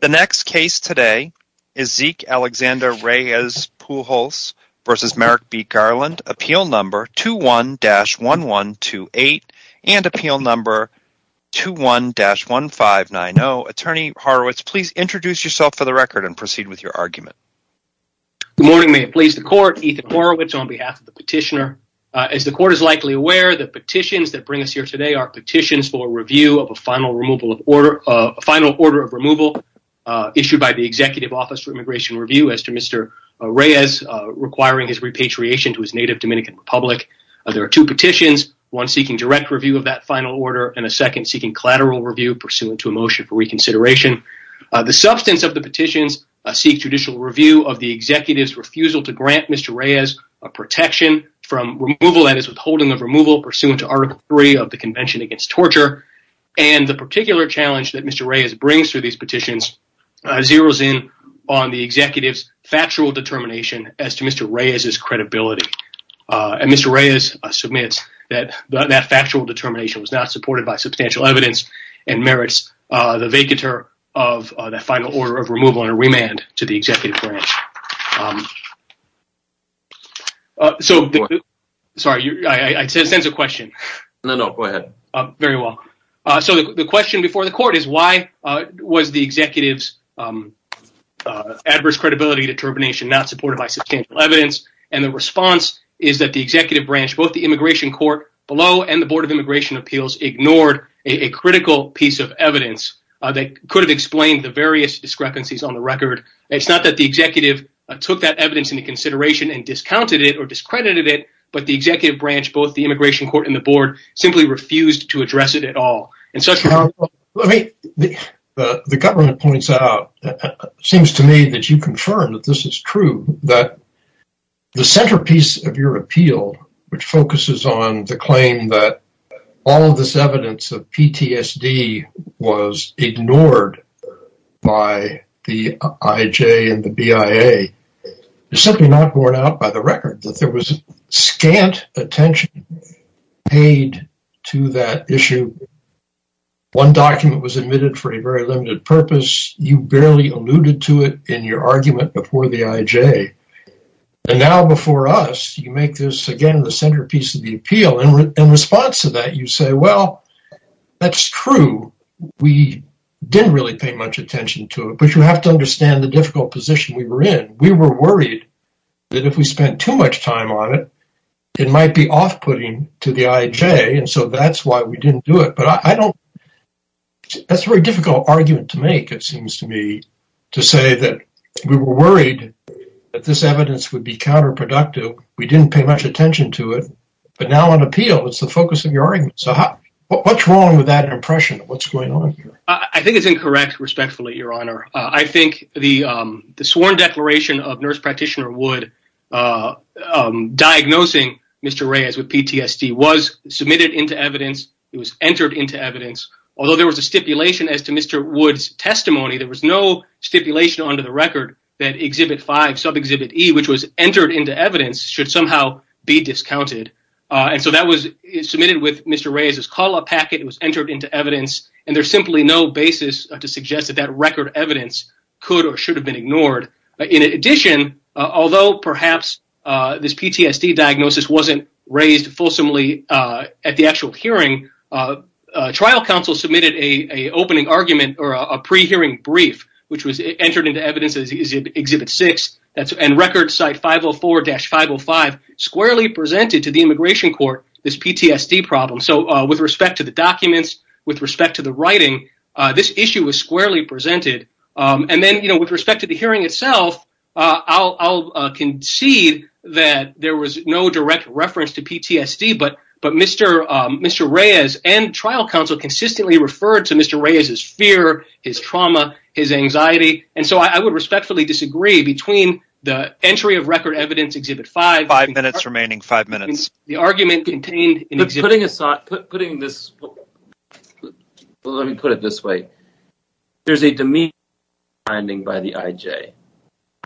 The next case today is Zeke Alexander Reyes Pujols v. Merrick B. Garland, appeal number 21-1128 and appeal number 21-1590. Attorney Horowitz, please introduce yourself for the record and proceed with your argument. Good morning, may it please the court. Ethan Horowitz on behalf of the petitioner. As the court is likely aware, the petitions that bring us here today are petitions for review of a final order of removal issued by the Executive Office for Immigration Review as to Mr. Reyes requiring his repatriation to his native Dominican Republic. There are two petitions, one seeking direct review of that final order and a second seeking collateral review pursuant to a motion for reconsideration. The substance of the petitions seek judicial review of the executive's refusal to grant Mr. Reyes a protection from removal, that is withholding of removal pursuant to Article 3 of the Convention Against Torture, and the particular challenge that Mr. Reyes brings to these petitions zeroes in on the executive's factual determination as to Mr. Reyes' credibility. Mr. Reyes submits that that factual determination was not supported by substantial evidence and merits the vacatur of the final order of removal and a remand to the court. The question before the court is why was the executive's adverse credibility determination not supported by substantial evidence and the response is that the executive branch, both the immigration court below and the Board of Immigration Appeals, ignored a critical piece of evidence that could have explained the various discrepancies on the record. It's not that the executive took that evidence into consideration and discounted it or discredited it, but the in the board simply refused to address it at all. The government points out, seems to me that you confirm that this is true, that the centerpiece of your appeal, which focuses on the claim that all of this evidence of PTSD was ignored by the IJ and the BIA, is simply not borne out by the record that there was scant attention paid to that issue. One document was admitted for a very limited purpose, you barely alluded to it in your argument before the IJ and now before us you make this again the centerpiece of the appeal and in response to that you say well that's true, we didn't really pay much attention to it, you have to understand the difficult position we were in. We were worried that if we spent too much time on it, it might be off-putting to the IJ and so that's why we didn't do it. That's a very difficult argument to make, it seems to me, to say that we were worried that this evidence would be counterproductive, we didn't pay much attention to it, but now on appeal it's the focus of your argument. What's wrong with that impression? What's going on here? I think it's incorrect, respectfully, your honor. I think the sworn declaration of nurse practitioner Wood diagnosing Mr. Reyes with PTSD was submitted into evidence, it was entered into evidence, although there was a stipulation as to Mr. Wood's testimony, there was no stipulation under the record that Exhibit 5, sub-exhibit E, which was entered into evidence, should somehow be discounted and so that was submitted with Mr. Reyes's call-up packet, was entered into evidence, and there's simply no basis to suggest that that record evidence could or should have been ignored. In addition, although perhaps this PTSD diagnosis wasn't raised fulsomely at the actual hearing, trial counsel submitted a opening argument or a pre-hearing brief which was entered into evidence as Exhibit 6 and record site 504-505 squarely with respect to the documents, with respect to the writing, this issue was squarely presented. Then, with respect to the hearing itself, I'll concede that there was no direct reference to PTSD, but Mr. Reyes and trial counsel consistently referred to Mr. Reyes's fear, his trauma, his anxiety, and so I would respectfully disagree between the entry of record evidence, Exhibit 5, and the argument contained in Exhibit 5. Let me put it this way. There's a demeanor finding by the IJ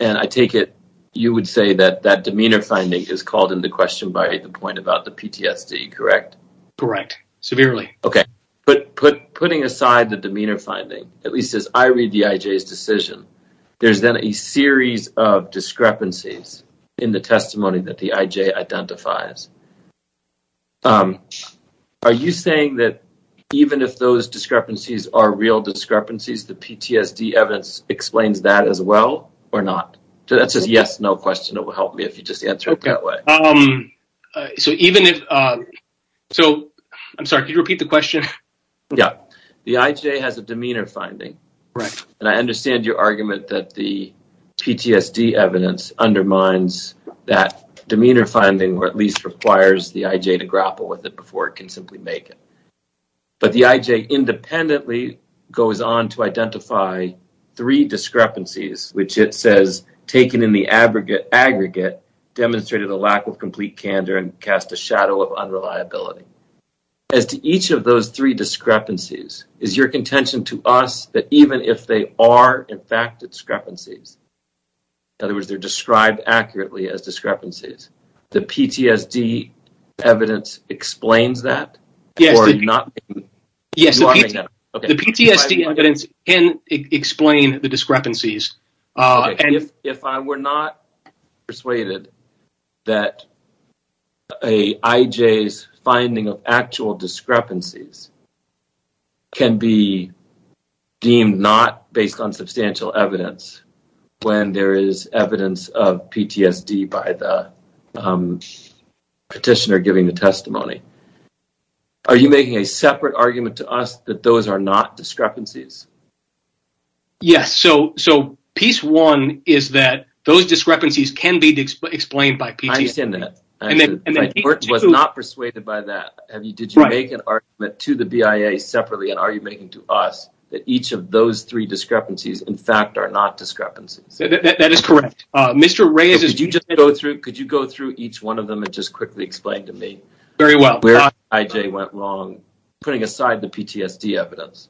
and I take it you would say that that demeanor finding is called into question by the point about the PTSD, correct? Correct, severely. Okay, but putting aside the demeanor finding, at least as I read the IJ's decision, there's then a discrepancy that the IJ identifies. Are you saying that even if those discrepancies are real discrepancies, the PTSD evidence explains that as well or not? That's a yes-no question. It will help me if you just answer it that way. I'm sorry, could you repeat the question? Yeah, the IJ has a demeanor finding and I understand your argument that the demeanor finding at least requires the IJ to grapple with it before it can simply make it, but the IJ independently goes on to identify three discrepancies which it says taken in the aggregate demonstrated a lack of complete candor and cast a shadow of unreliability. As to each of those three discrepancies, is your contention to us that even if they are in fact discrepancies, in other words, they're described accurately as discrepancies, the PTSD evidence explains that? Yes, the PTSD evidence can explain the discrepancies. If I were not persuaded that an IJ's finding of actual discrepancies can be deemed not based on substantial evidence when there is evidence of PTSD by the petitioner giving the testimony, are you making a separate argument to us that those are not discrepancies? Yes, so piece one is that those discrepancies can be explained by PTSD. I separately make an argument to us that each of those three discrepancies in fact are not discrepancies. That is correct. Mr. Reyes, could you go through each one of them and just quickly explain to me where the IJ went wrong, putting aside the PTSD evidence?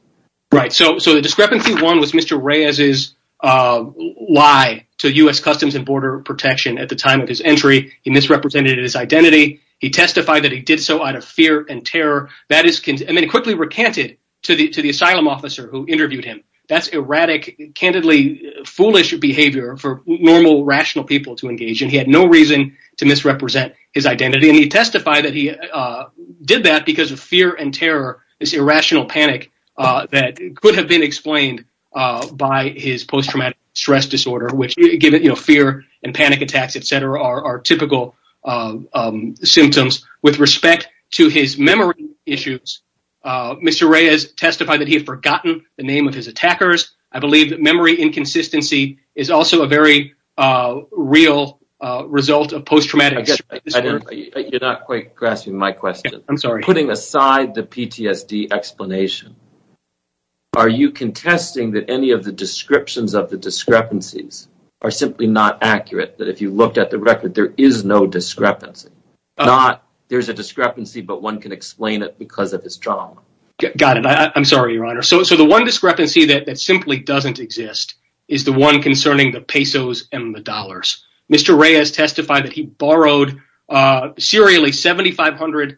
Right, so the discrepancy one was Mr. Reyes' lie to U.S. Customs and Border Protection at the time of his entry. He misrepresented his identity. He testified that he did so out of fear and terror. That is quickly recanted to the asylum officer who interviewed him. That's erratic, candidly foolish behavior for normal rational people to engage in. He had no reason to misrepresent his identity and he testified that he did that because of fear and terror, this irrational panic that could have been explained by his post-traumatic stress disorder, which fear and panic attacks, etc. are typical symptoms. With respect to his memory issues, Mr. Reyes testified that he had forgotten the name of his attackers. I believe that memory inconsistency is also a very real result of post-traumatic stress disorder. You're not quite grasping my question. I'm sorry. Putting aside the PTSD explanation, are you contesting that any of the descriptions of the discrepancies are simply not accurate? That if you looked at the record, there is no discrepancy. There's a discrepancy, but one can explain it because of his trauma. Got it. I'm sorry, Your Honor. So the one discrepancy that simply doesn't exist is the one concerning the pesos and the dollars. Mr. Reyes testified that he borrowed serially $7,500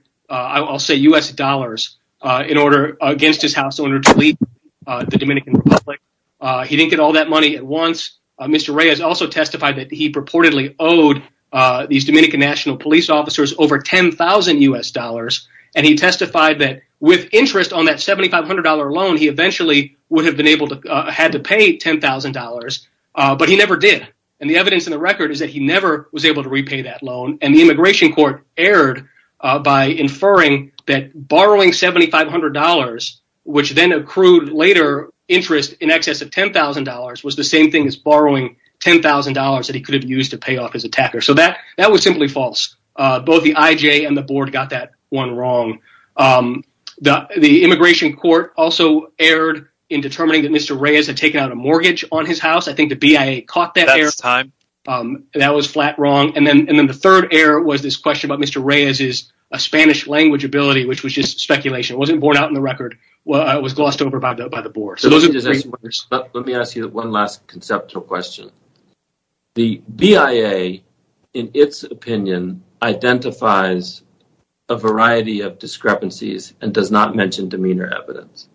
U.S. dollars against his house owner to leave the Dominican Republic. He didn't get all that money at once. Mr. Reyes also testified that he purportedly owed these Dominican National Police officers over $10,000 U.S. dollars. He testified that with interest on that $7,500 loan, he eventually would have been able to pay $10,000, but he never did. The evidence is that he never was able to repay that loan. The immigration court erred by inferring that borrowing $7,500, which then accrued later interest in excess of $10,000, was the same thing as borrowing $10,000 that he could have used to pay off his attacker. That was simply false. Both the IJ and the board got that one wrong. The immigration court also erred in determining that Mr. Reyes had taken out a mortgage on his house. I think the BIA caught that error. That was flat wrong. And then the third error was this question about Mr. Reyes' Spanish language ability, which was just speculation. It wasn't borne out in the record. It was glossed over by the board. Let me ask you one last conceptual question. The BIA, in its opinion, identifies a variety of discrepancies and does not mention demeanor evidence.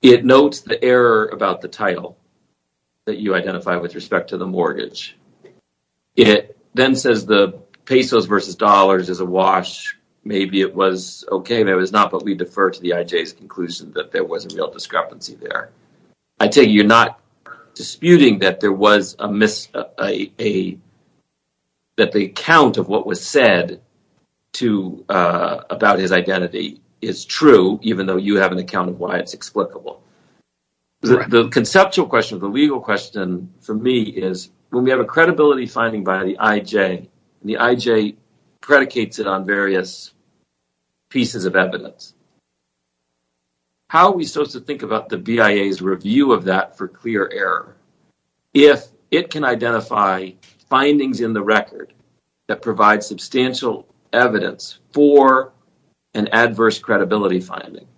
It notes the error about the title that you identify with respect to the mortgage. It then says the pesos versus dollars is a wash. Maybe it was okay. Maybe it was not, but we defer to the IJ's conclusion that there was a real discrepancy there. I tell you, you're not disputing that there was a mis-account of what was said about his identity. It's true, even though you have an account of why it's explicable. The conceptual question, the legal question for me is when we have a credibility finding by the IJ, the IJ predicates it on various pieces of evidence. How do we think about the BIA's review of that for clear error? If it can identify findings in the record that provide substantial evidence for an adverse credibility finding,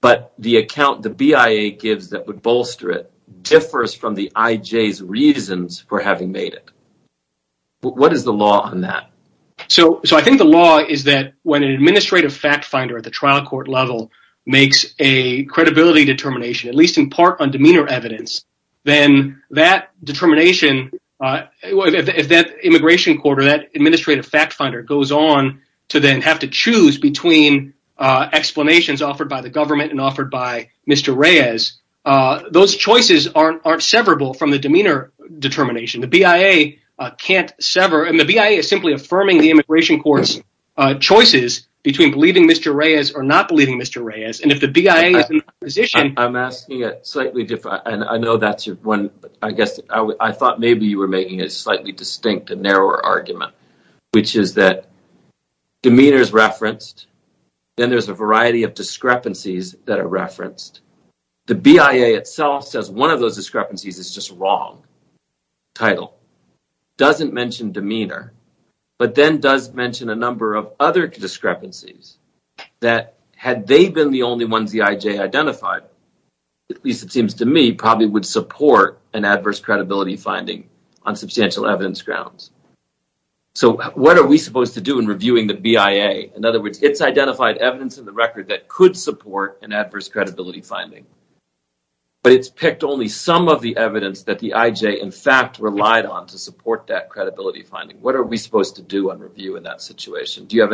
but the account the BIA gives that would bolster it differs from the IJ's reasons for having made it, what is the law on that? I think the law is that when an administrative fact finder at the trial court level makes a credibility determination, at least in part on demeanor evidence, if that immigration court or that administrative fact finder goes on to then have to choose between explanations offered by the government and offered by Mr. Reyes, those choices aren't severable from the demeanor determination. The BIA can't sever. The BIA is simply affirming the immigration court's choices between believing Mr. Reyes or not and I know that's your one, I guess I thought maybe you were making a slightly distinct and narrower argument, which is that demeanor is referenced, then there's a variety of discrepancies that are referenced. The BIA itself says one of those discrepancies is just wrong. Title doesn't mention demeanor, but then does mention a number of other discrepancies that had they been the only ones the IJ identified, at least it seems to me, probably would support an adverse credibility finding on substantial evidence grounds. So what are we supposed to do in reviewing the BIA? In other words, it's identified evidence in the record that could support an adverse credibility finding, but it's picked only some of the evidence that the IJ in fact relied on to support that credibility finding. What are we supposed to do on review in that situation? Yeah,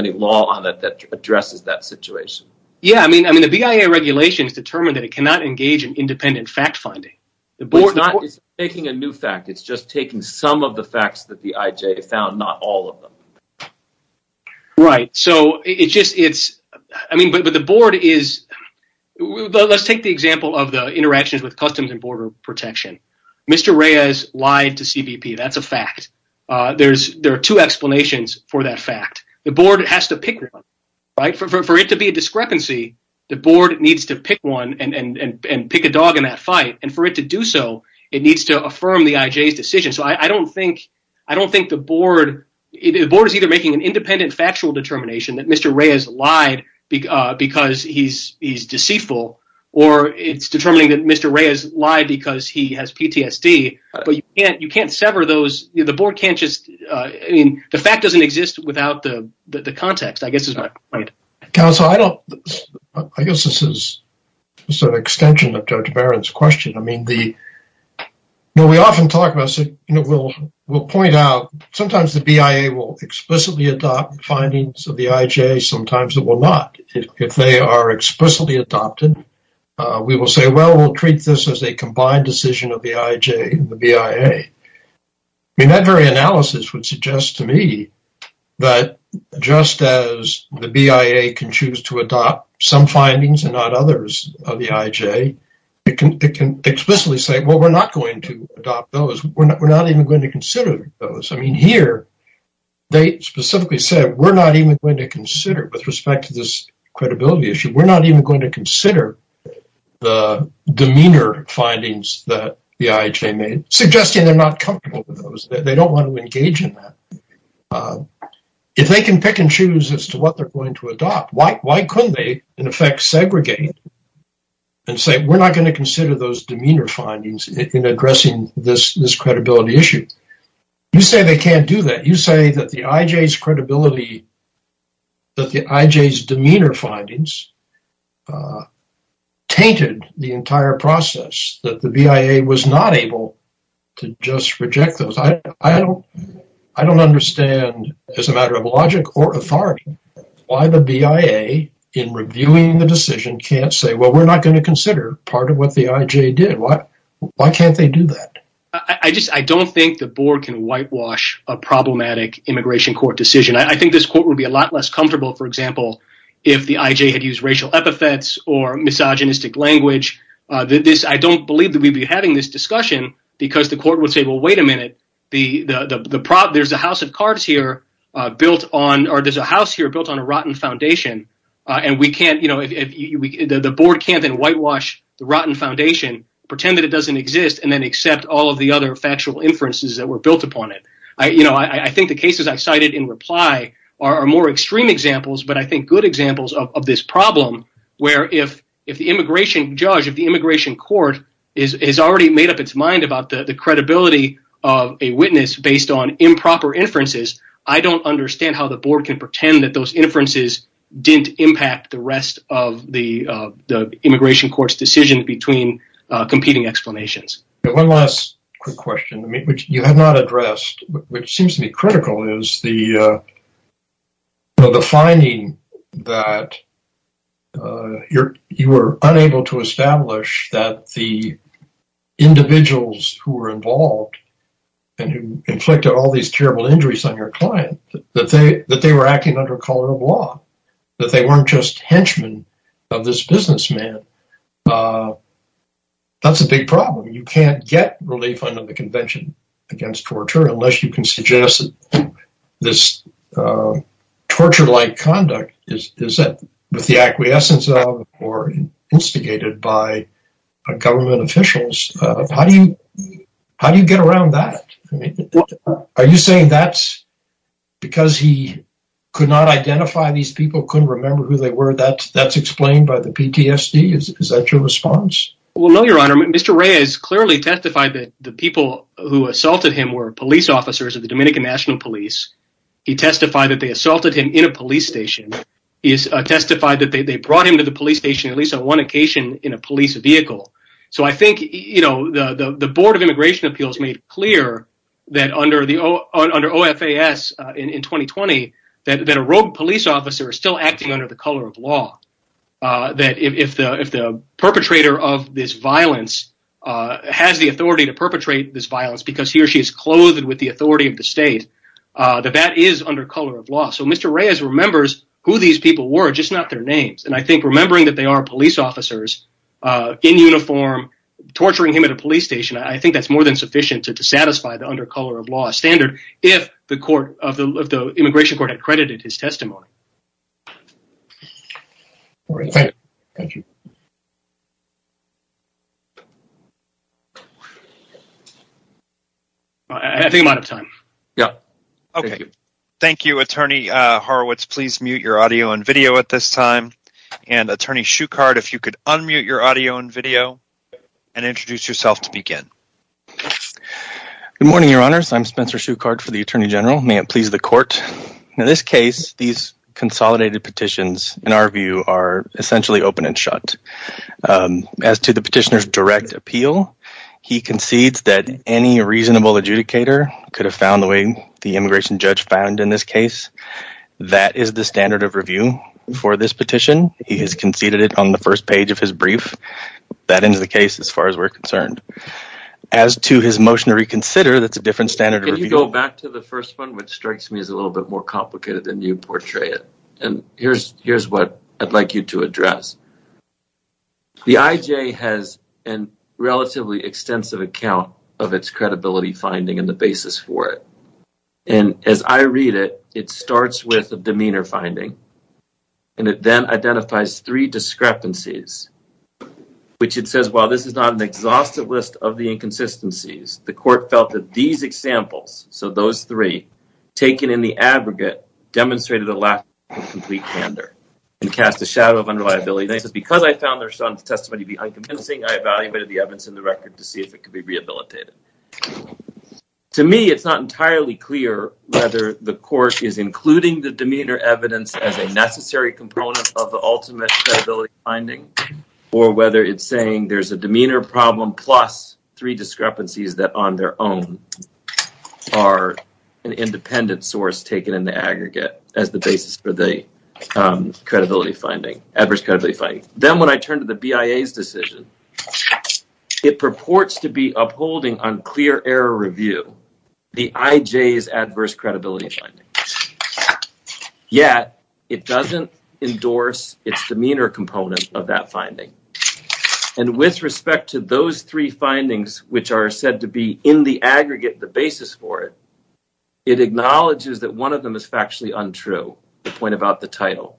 I mean the BIA regulations determine that it cannot engage in independent fact finding. It's not taking a new fact, it's just taking some of the facts that the IJ found, not all of them. Right, so it's just, I mean, but the board is, let's take the example of the interactions with Customs and Border Protection. Mr. Reyes lied to CBP, that's a fact. There are two explanations for that fact. The board has to pick one, right? For it to be a discrepancy, the board needs to pick one and pick a dog in that fight, and for it to do so, it needs to affirm the IJ's decision. So I don't think the board is either making an independent factual determination that Mr. Reyes lied because he's deceitful, or it's determining that Mr. Reyes lied because he has PTSD, but you can't sever those, the board can't just, I mean, the fact doesn't exist without the context, I guess is my point. Counsel, I don't, I guess this is sort of an extension of Judge Barron's question. I mean, we often talk about, we'll point out, sometimes the BIA will explicitly adopt findings of the IJ, sometimes it will not. If they are a combined decision of the IJ and the BIA, I mean, that very analysis would suggest to me that just as the BIA can choose to adopt some findings and not others of the IJ, it can explicitly say, well, we're not going to adopt those, we're not even going to consider those. I mean, here, they specifically said, we're not even going to consider, with respect to this credibility issue, we're not even going to consider the demeanor findings that the IJ made, suggesting they're not comfortable with those, they don't want to engage in that. If they can pick and choose as to what they're going to adopt, why couldn't they, in effect, segregate and say, we're not going to consider those demeanor findings in addressing this credibility issue? You say they can't do that. You say that the IJ's credibility, that the IJ's demeanor findings tainted the entire process, that the BIA was not able to just reject those. I don't understand, as a matter of logic or authority, why the BIA, in reviewing the decision, can't say, well, we're not going to consider part of what the IJ did. Why can't they do that? I just, I don't think the board can whitewash a problematic immigration court decision. I think this court would be a lot less comfortable, for example, if the IJ had used racial epithets or misogynistic language. I don't believe that we'd be having this discussion because the court would say, well, wait a minute, there's a house of cards here built on, or there's a house here built on a rotten foundation, and we can't, you know, the board can't then whitewash the rotten foundation, pretend that it doesn't exist, and then accept all of the other factual inferences that were built upon it. You know, I think the cases I cited in reply are more extreme examples, but I think good examples of this problem, where if the immigration judge, if the immigration court has already made up its mind about the credibility of a witness based on improper inferences, I don't understand how the board can pretend that those inferences didn't impact the rest of the immigration court's decision between competing explanations. One last quick question, which you have not addressed, which seems to be critical, is the, you know, the finding that you were unable to establish that the individuals who were involved, and who inflicted all these terrible injuries on your client, that they were acting under a color of law, that they weren't just henchmen of this unless you can suggest that this torture-like conduct is that with the acquiescence of, or instigated by, government officials. How do you, how do you get around that? Are you saying that's because he could not identify these people, couldn't remember who they were, that that's explained by the PTSD? Is that your response? Well, no, your honor, Mr. Reyes clearly testified that the people who assaulted him were police officers of the Dominican National Police. He testified that they assaulted him in a police station. He testified that they brought him to the police station at least on one occasion in a police vehicle. So, I think, you know, the Board of Immigration Appeals made clear that under OFAS in 2020, that a rogue police officer is still acting under the color of law, that if the perpetrator of this violence has the authority to perpetrate this violence because he or she is clothed with the authority of the state, that that is under color of law. So, Mr. Reyes remembers who these people were, just not their names. And I think remembering that they are police officers in uniform, torturing him at a police station, I think that's more than sufficient to satisfy the under color of law standard if the immigration court had credited his testimony. All right. Thank you. I think I'm out of time. Yeah. Okay. Thank you, Attorney Horowitz. Please mute your audio and video at this time. And Attorney Shuchard, if you could unmute your audio and video and introduce yourself to begin. Good morning, your honors. I'm Spencer Shuchard for the Consolidated Petitions, in our view, are essentially open and shut. As to the petitioner's direct appeal, he concedes that any reasonable adjudicator could have found the way the immigration judge found in this case. That is the standard of review for this petition. He has conceded it on the first page of his brief. That ends the case as far as we're concerned. As to his motion to reconsider, that's a different standard. Can you go back to the first one, which strikes me as a little bit more complicated than you portray it. And here's what I'd like you to address. The IJ has a relatively extensive account of its credibility finding and the basis for it. And as I read it, it starts with a demeanor finding and it then identifies three discrepancies, which it says, well, this is not an exhaustive list of inconsistencies. The court felt that these examples, so those three, taken in the aggregate, demonstrated a lack of complete candor and cast a shadow of unreliability. This is because I found their son's testimony to be unconvincing. I evaluated the evidence in the record to see if it could be rehabilitated. To me, it's not entirely clear whether the court is including the demeanor evidence as a necessary component of the ultimate credibility finding or whether it's saying there's a demeanor problem plus three discrepancies that on their own are an independent source taken in the aggregate as the basis for the credibility finding, adverse credibility finding. Then when I turned to the BIA's decision, it purports to be upholding unclear error review, the IJ's adverse credibility finding. Yet, it doesn't endorse its demeanor component of that finding. And with respect to those three findings, which are said to be in the aggregate the basis for it, it acknowledges that one of them is factually untrue, the point about the title.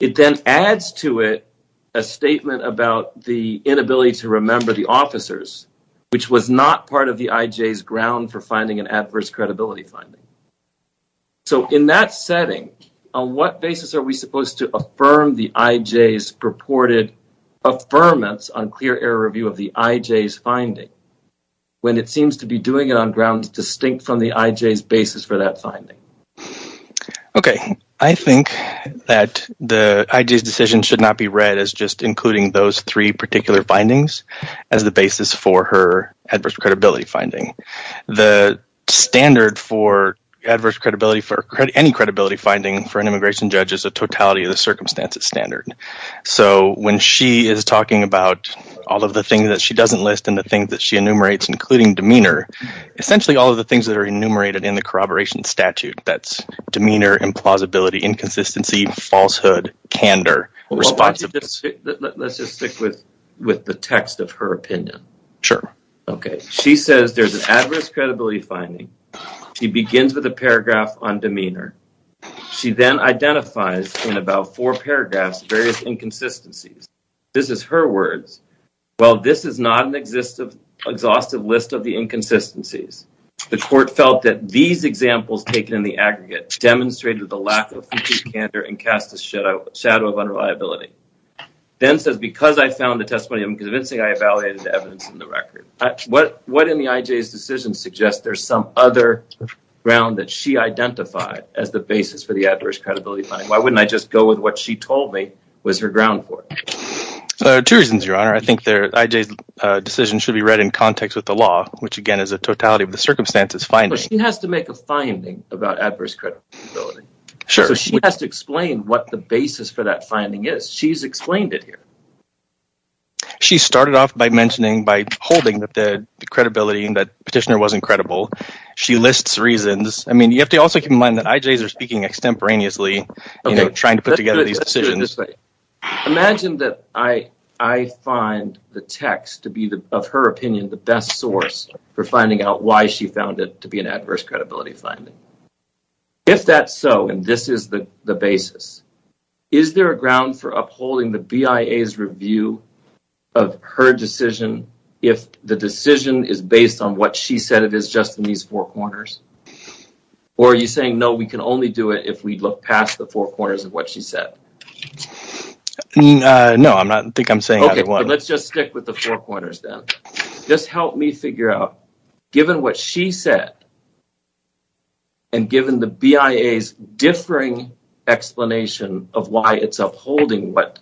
It then adds to it a statement about the inability to remember the officers, which was not part of the IJ's ground for finding an adverse credibility finding. So in that setting, on what basis are we supposed to affirm the IJ's purported affirmance on clear error review of the IJ's finding when it seems to be doing it on grounds distinct from the IJ's basis for that finding? Okay, I think that the IJ's decision should not be read as just including those three particular findings as the basis for her adverse credibility finding. The standard for adverse credibility for any credibility finding for an immigration judge is a totality of the circumstances standard. So when she is talking about all of the things that she doesn't list and the things that she enumerates including demeanor, essentially all of the things that are enumerated in the corroboration statute, that's demeanor, implausibility, inconsistency, falsehood, candor. Let's just stick with the text of her opinion. Sure. Okay, she says there's an adverse credibility finding. She begins with a paragraph on demeanor. She then identifies in about four paragraphs various inconsistencies. This is her words, well this is not an exhaustive list of the inconsistencies. The court felt that these examples taken in the aggregate demonstrated the lack of future candor and cast a shadow of unreliability. Then says because I found the testimony I'm convincing, I evaluated the evidence in the record. What in the IJ's decision suggests there's some other ground that she identified as the basis for the adverse credibility finding? Why wouldn't I just go with what she told me was her ground for it? There are two reasons, your honor. I think their IJ's decision should be read in context with the law, which again is a totality of the circumstances finding. She has to make a finding about adverse credibility. So she has to explain what the basis for that finding is. She's explained it here. She started off by mentioning by holding that the credibility and that petitioner wasn't credible. She lists reasons. I mean you have to also keep in mind that IJ's are speaking extemporaneously, you know, trying to put together these decisions. Imagine that I find the text to be, of her opinion, the best source for finding out why she found it to be an adverse credibility finding. If that's so and this is the the basis, is there a ground for upholding the BIA's review of her decision if the decision is based on what she said it is just in these four corners? Or are you saying no, we can only do it if we look past the four corners of what she said? No, I'm not, I think I'm saying that. Okay, let's just stick with the four corners then. Just help me figure out, given what she said and given the BIA's explanation of why it's upholding what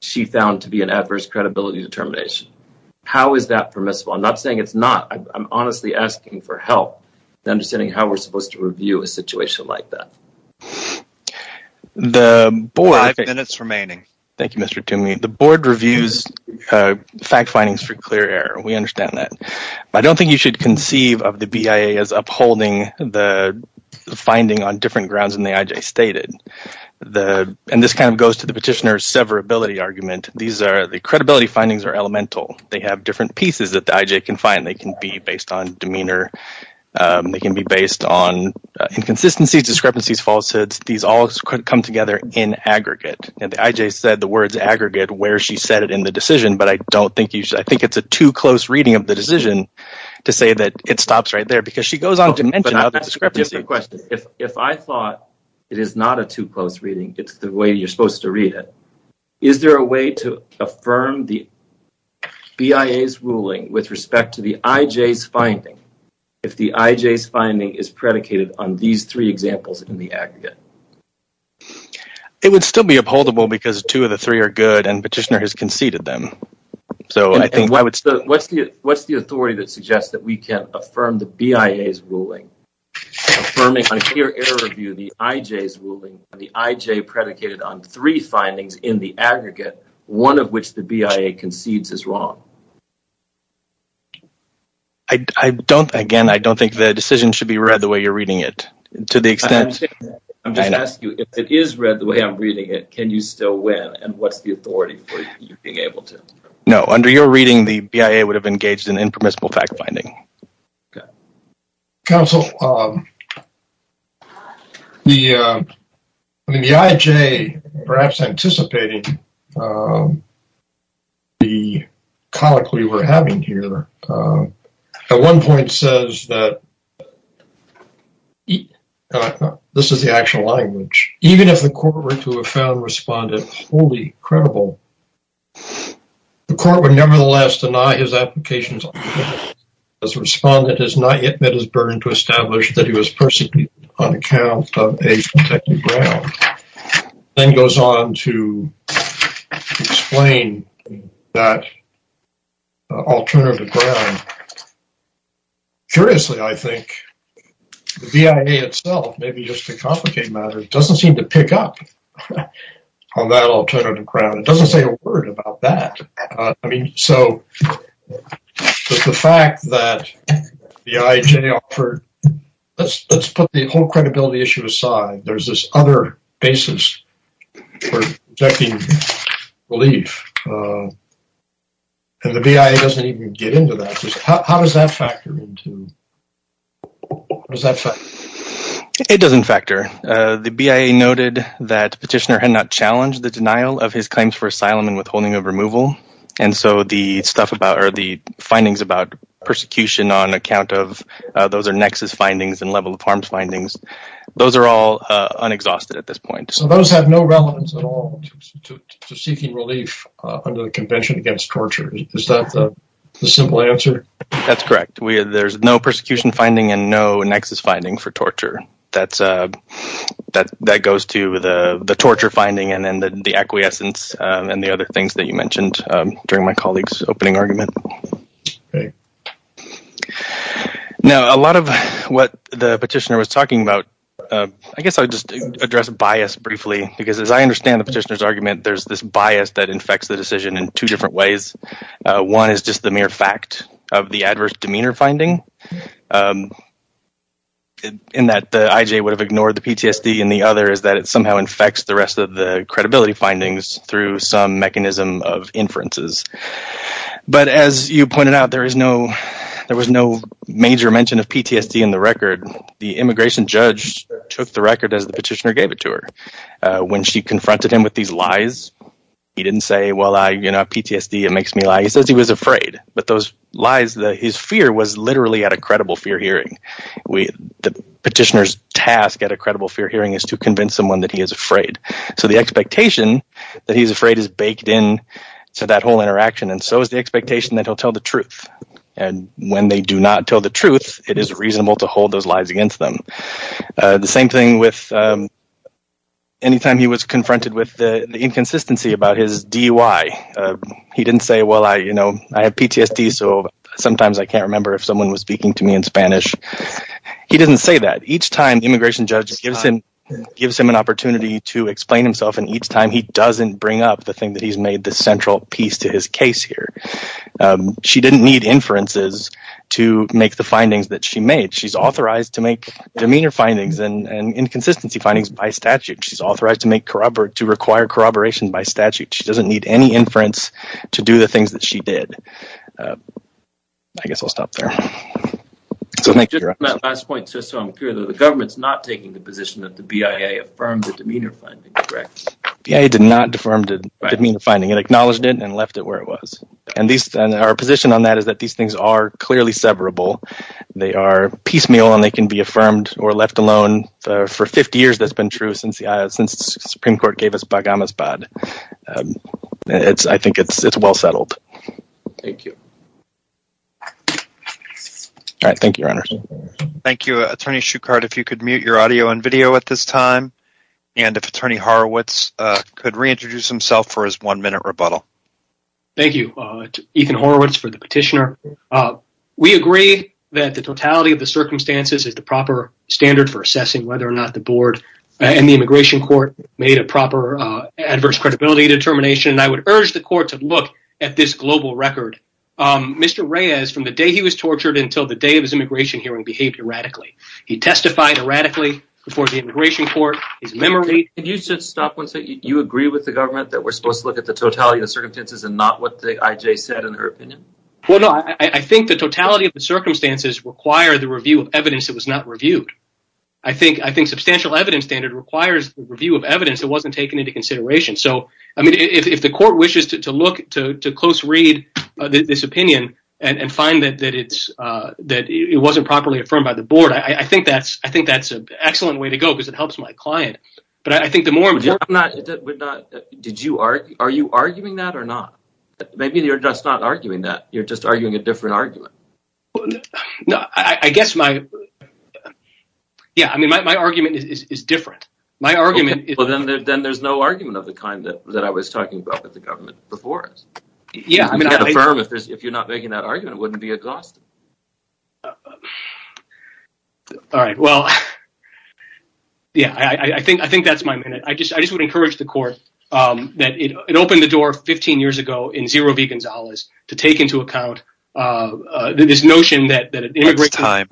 she found to be an adverse credibility determination, how is that permissible? I'm not saying it's not. I'm honestly asking for help in understanding how we're supposed to review a situation like that. Five minutes remaining. Thank you, Mr. Toomey. The board reviews fact findings for clear error. We understand that. I don't think you should the and this kind of goes to the petitioner's severability argument. These are the credibility findings are elemental. They have different pieces that the IJ can find. They can be based on demeanor. They can be based on inconsistencies, discrepancies, falsehoods. These all come together in aggregate and the IJ said the words aggregate where she said it in the decision but I don't think you should. I think it's a too close reading of the decision to say that it stops right because she goes on to mention other discrepancies. If I thought it is not a too close reading, it's the way you're supposed to read it. Is there a way to affirm the BIA's ruling with respect to the IJ's finding if the IJ's finding is predicated on these three examples in the aggregate? It would still be upholdable because two of the three are good and petitioner has conceded them. So what's the authority that suggests that we can affirm the BIA's ruling affirming on peer interview the IJ's ruling the IJ predicated on three findings in the aggregate one of which the BIA concedes is wrong? I don't again I don't think the decision should be read the way you're reading it to the extent. I'm just asking if it is read the way I'm reading it can you still win and what's the authority for you being able to? No, under your reading the BIA would have engaged in impermissible fact-finding. Council, the IJ perhaps anticipating the conic we were having here at one point says that this is the actual language even if the court were to have found respondent fully credible the court would nevertheless deny his applications as respondent has not yet met his burden to establish that he was persecuted on account of a protected ground then goes on to explain that alternative ground. Curiously I think the BIA itself maybe just to complicate matters doesn't seem to pick up on that alternative ground it doesn't say a word about that. I mean so just the fact that the IJ offered let's put the whole credibility issue aside there's this other basis for protecting belief and the BIA doesn't even get into that just how does that factor into what does that say? It doesn't factor the BIA noted that petitioner had not challenged the denial of his claims for asylum and withholding of removal and so the stuff about or the findings about persecution on account of those are nexus findings and level of harms those are all unexhausted at this point. So those have no relevance at all to seeking relief under the convention against torture is that the simple answer? That's correct there's no persecution finding and no nexus finding for torture that goes to the torture finding and then the acquiescence and the other things that you mentioned during my colleague's opening argument. Great. Now a lot of what the petitioner was talking about I guess I'll just address bias briefly because as I understand the petitioner's argument there's this bias that infects the decision in two different ways. One is just the mere fact of the adverse demeanor finding in that the IJ would have ignored the PTSD and the other is that it somehow infects the rest of the credibility findings through some mechanism of inferences but as you pointed out there is no there was no major mention of PTSD in the record the immigration judge took the record as the petitioner gave it to her when she confronted him with these lies he didn't say well I you know PTSD it makes me lie he says he was afraid but those lies that his fear was literally at a credible fear hearing we the petitioner's task at a credible fear hearing is to convince someone that he is afraid so the expectation that he's afraid is baked in to that whole interaction and so is the expectation that he'll tell the truth and when they do not tell the truth it is reasonable to hold those lies against them the same thing with any time he was confronted with the inconsistency about his DUI he didn't say well I you know I have PTSD so sometimes I can't remember if someone was speaking to me in gives him an opportunity to explain himself and each time he doesn't bring up the thing that he's made the central piece to his case here she didn't need inferences to make the findings that she made she's authorized to make demeanor findings and and inconsistency findings by statute she's authorized to make corroborate to require corroboration by statute she doesn't need any inference to do the things that she did I guess I'll stop there so thank you just my last point the government's not taking the position that the BIA affirmed the demeanor finding correct yeah he did not deformed it didn't mean the finding it acknowledged it and left it where it was and these and our position on that is that these things are clearly severable they are piecemeal and they can be affirmed or left alone for 50 years that's been true since the since supreme court gave us bagamas bad it's I think it's it's well settled thank you all right thank you runners thank you attorney shukart if you could mute your audio and video at this time and if attorney horowitz uh could reintroduce himself for his one minute rebuttal thank you uh ethan horowitz for the petitioner uh we agree that the totality of the circumstances is the proper standard for assessing whether or not the board and the immigration court made a proper uh adverse credibility determination and I would urge the court to look at this global record um mr reyes from the day he was tortured until the day of his immigration hearing behaved erratically he testified erratically before the immigration court his memory can you just stop once that you agree with the government that we're supposed to look at the totality of the circumstances and not what the ij said in her opinion well no I think the totality of the circumstances require the review of evidence that was not reviewed I think I think substantial evidence standard requires the review of evidence that wasn't taken into consideration so I mean if the court wishes to look to to close read uh this opinion and find that that it's uh that it wasn't properly affirmed by the board I think that's I think that's an excellent way to go because it helps my client but I think the more important not that we're not did you are are you arguing that or not maybe you're just not arguing that you're just arguing a different argument no I guess my yeah I mean my argument is is different my argument well then there's no argument of the kind that that I was talking about with the government before us yeah I mean if you're not making that argument it wouldn't be exhausting all right well yeah I I think I think that's my minute I just I just would encourage the court um that it it opened the door 15 years ago in zero v Gonzalez to take into account uh this notion that that immigration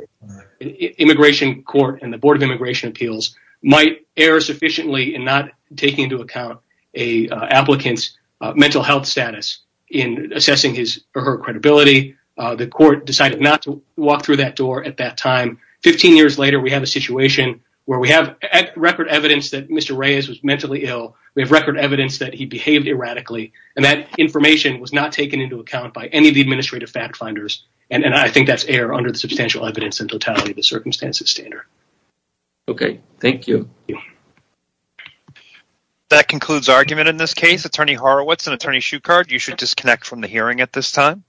immigration court and the board of immigration appeals might err sufficiently in not taking into account a applicant's mental health status in assessing his or her credibility uh the court decided not to walk through that door at that time 15 years later we have a situation where we have record evidence that Mr. Reyes was mentally ill we have record evidence that he behaved erratically and that information was not taken into account by any of the administrative fact finders and and I think that's air under the substantial evidence and totality of the that concludes argument in this case attorney Horowitz and attorney Shukart you should disconnect from the hearing at this time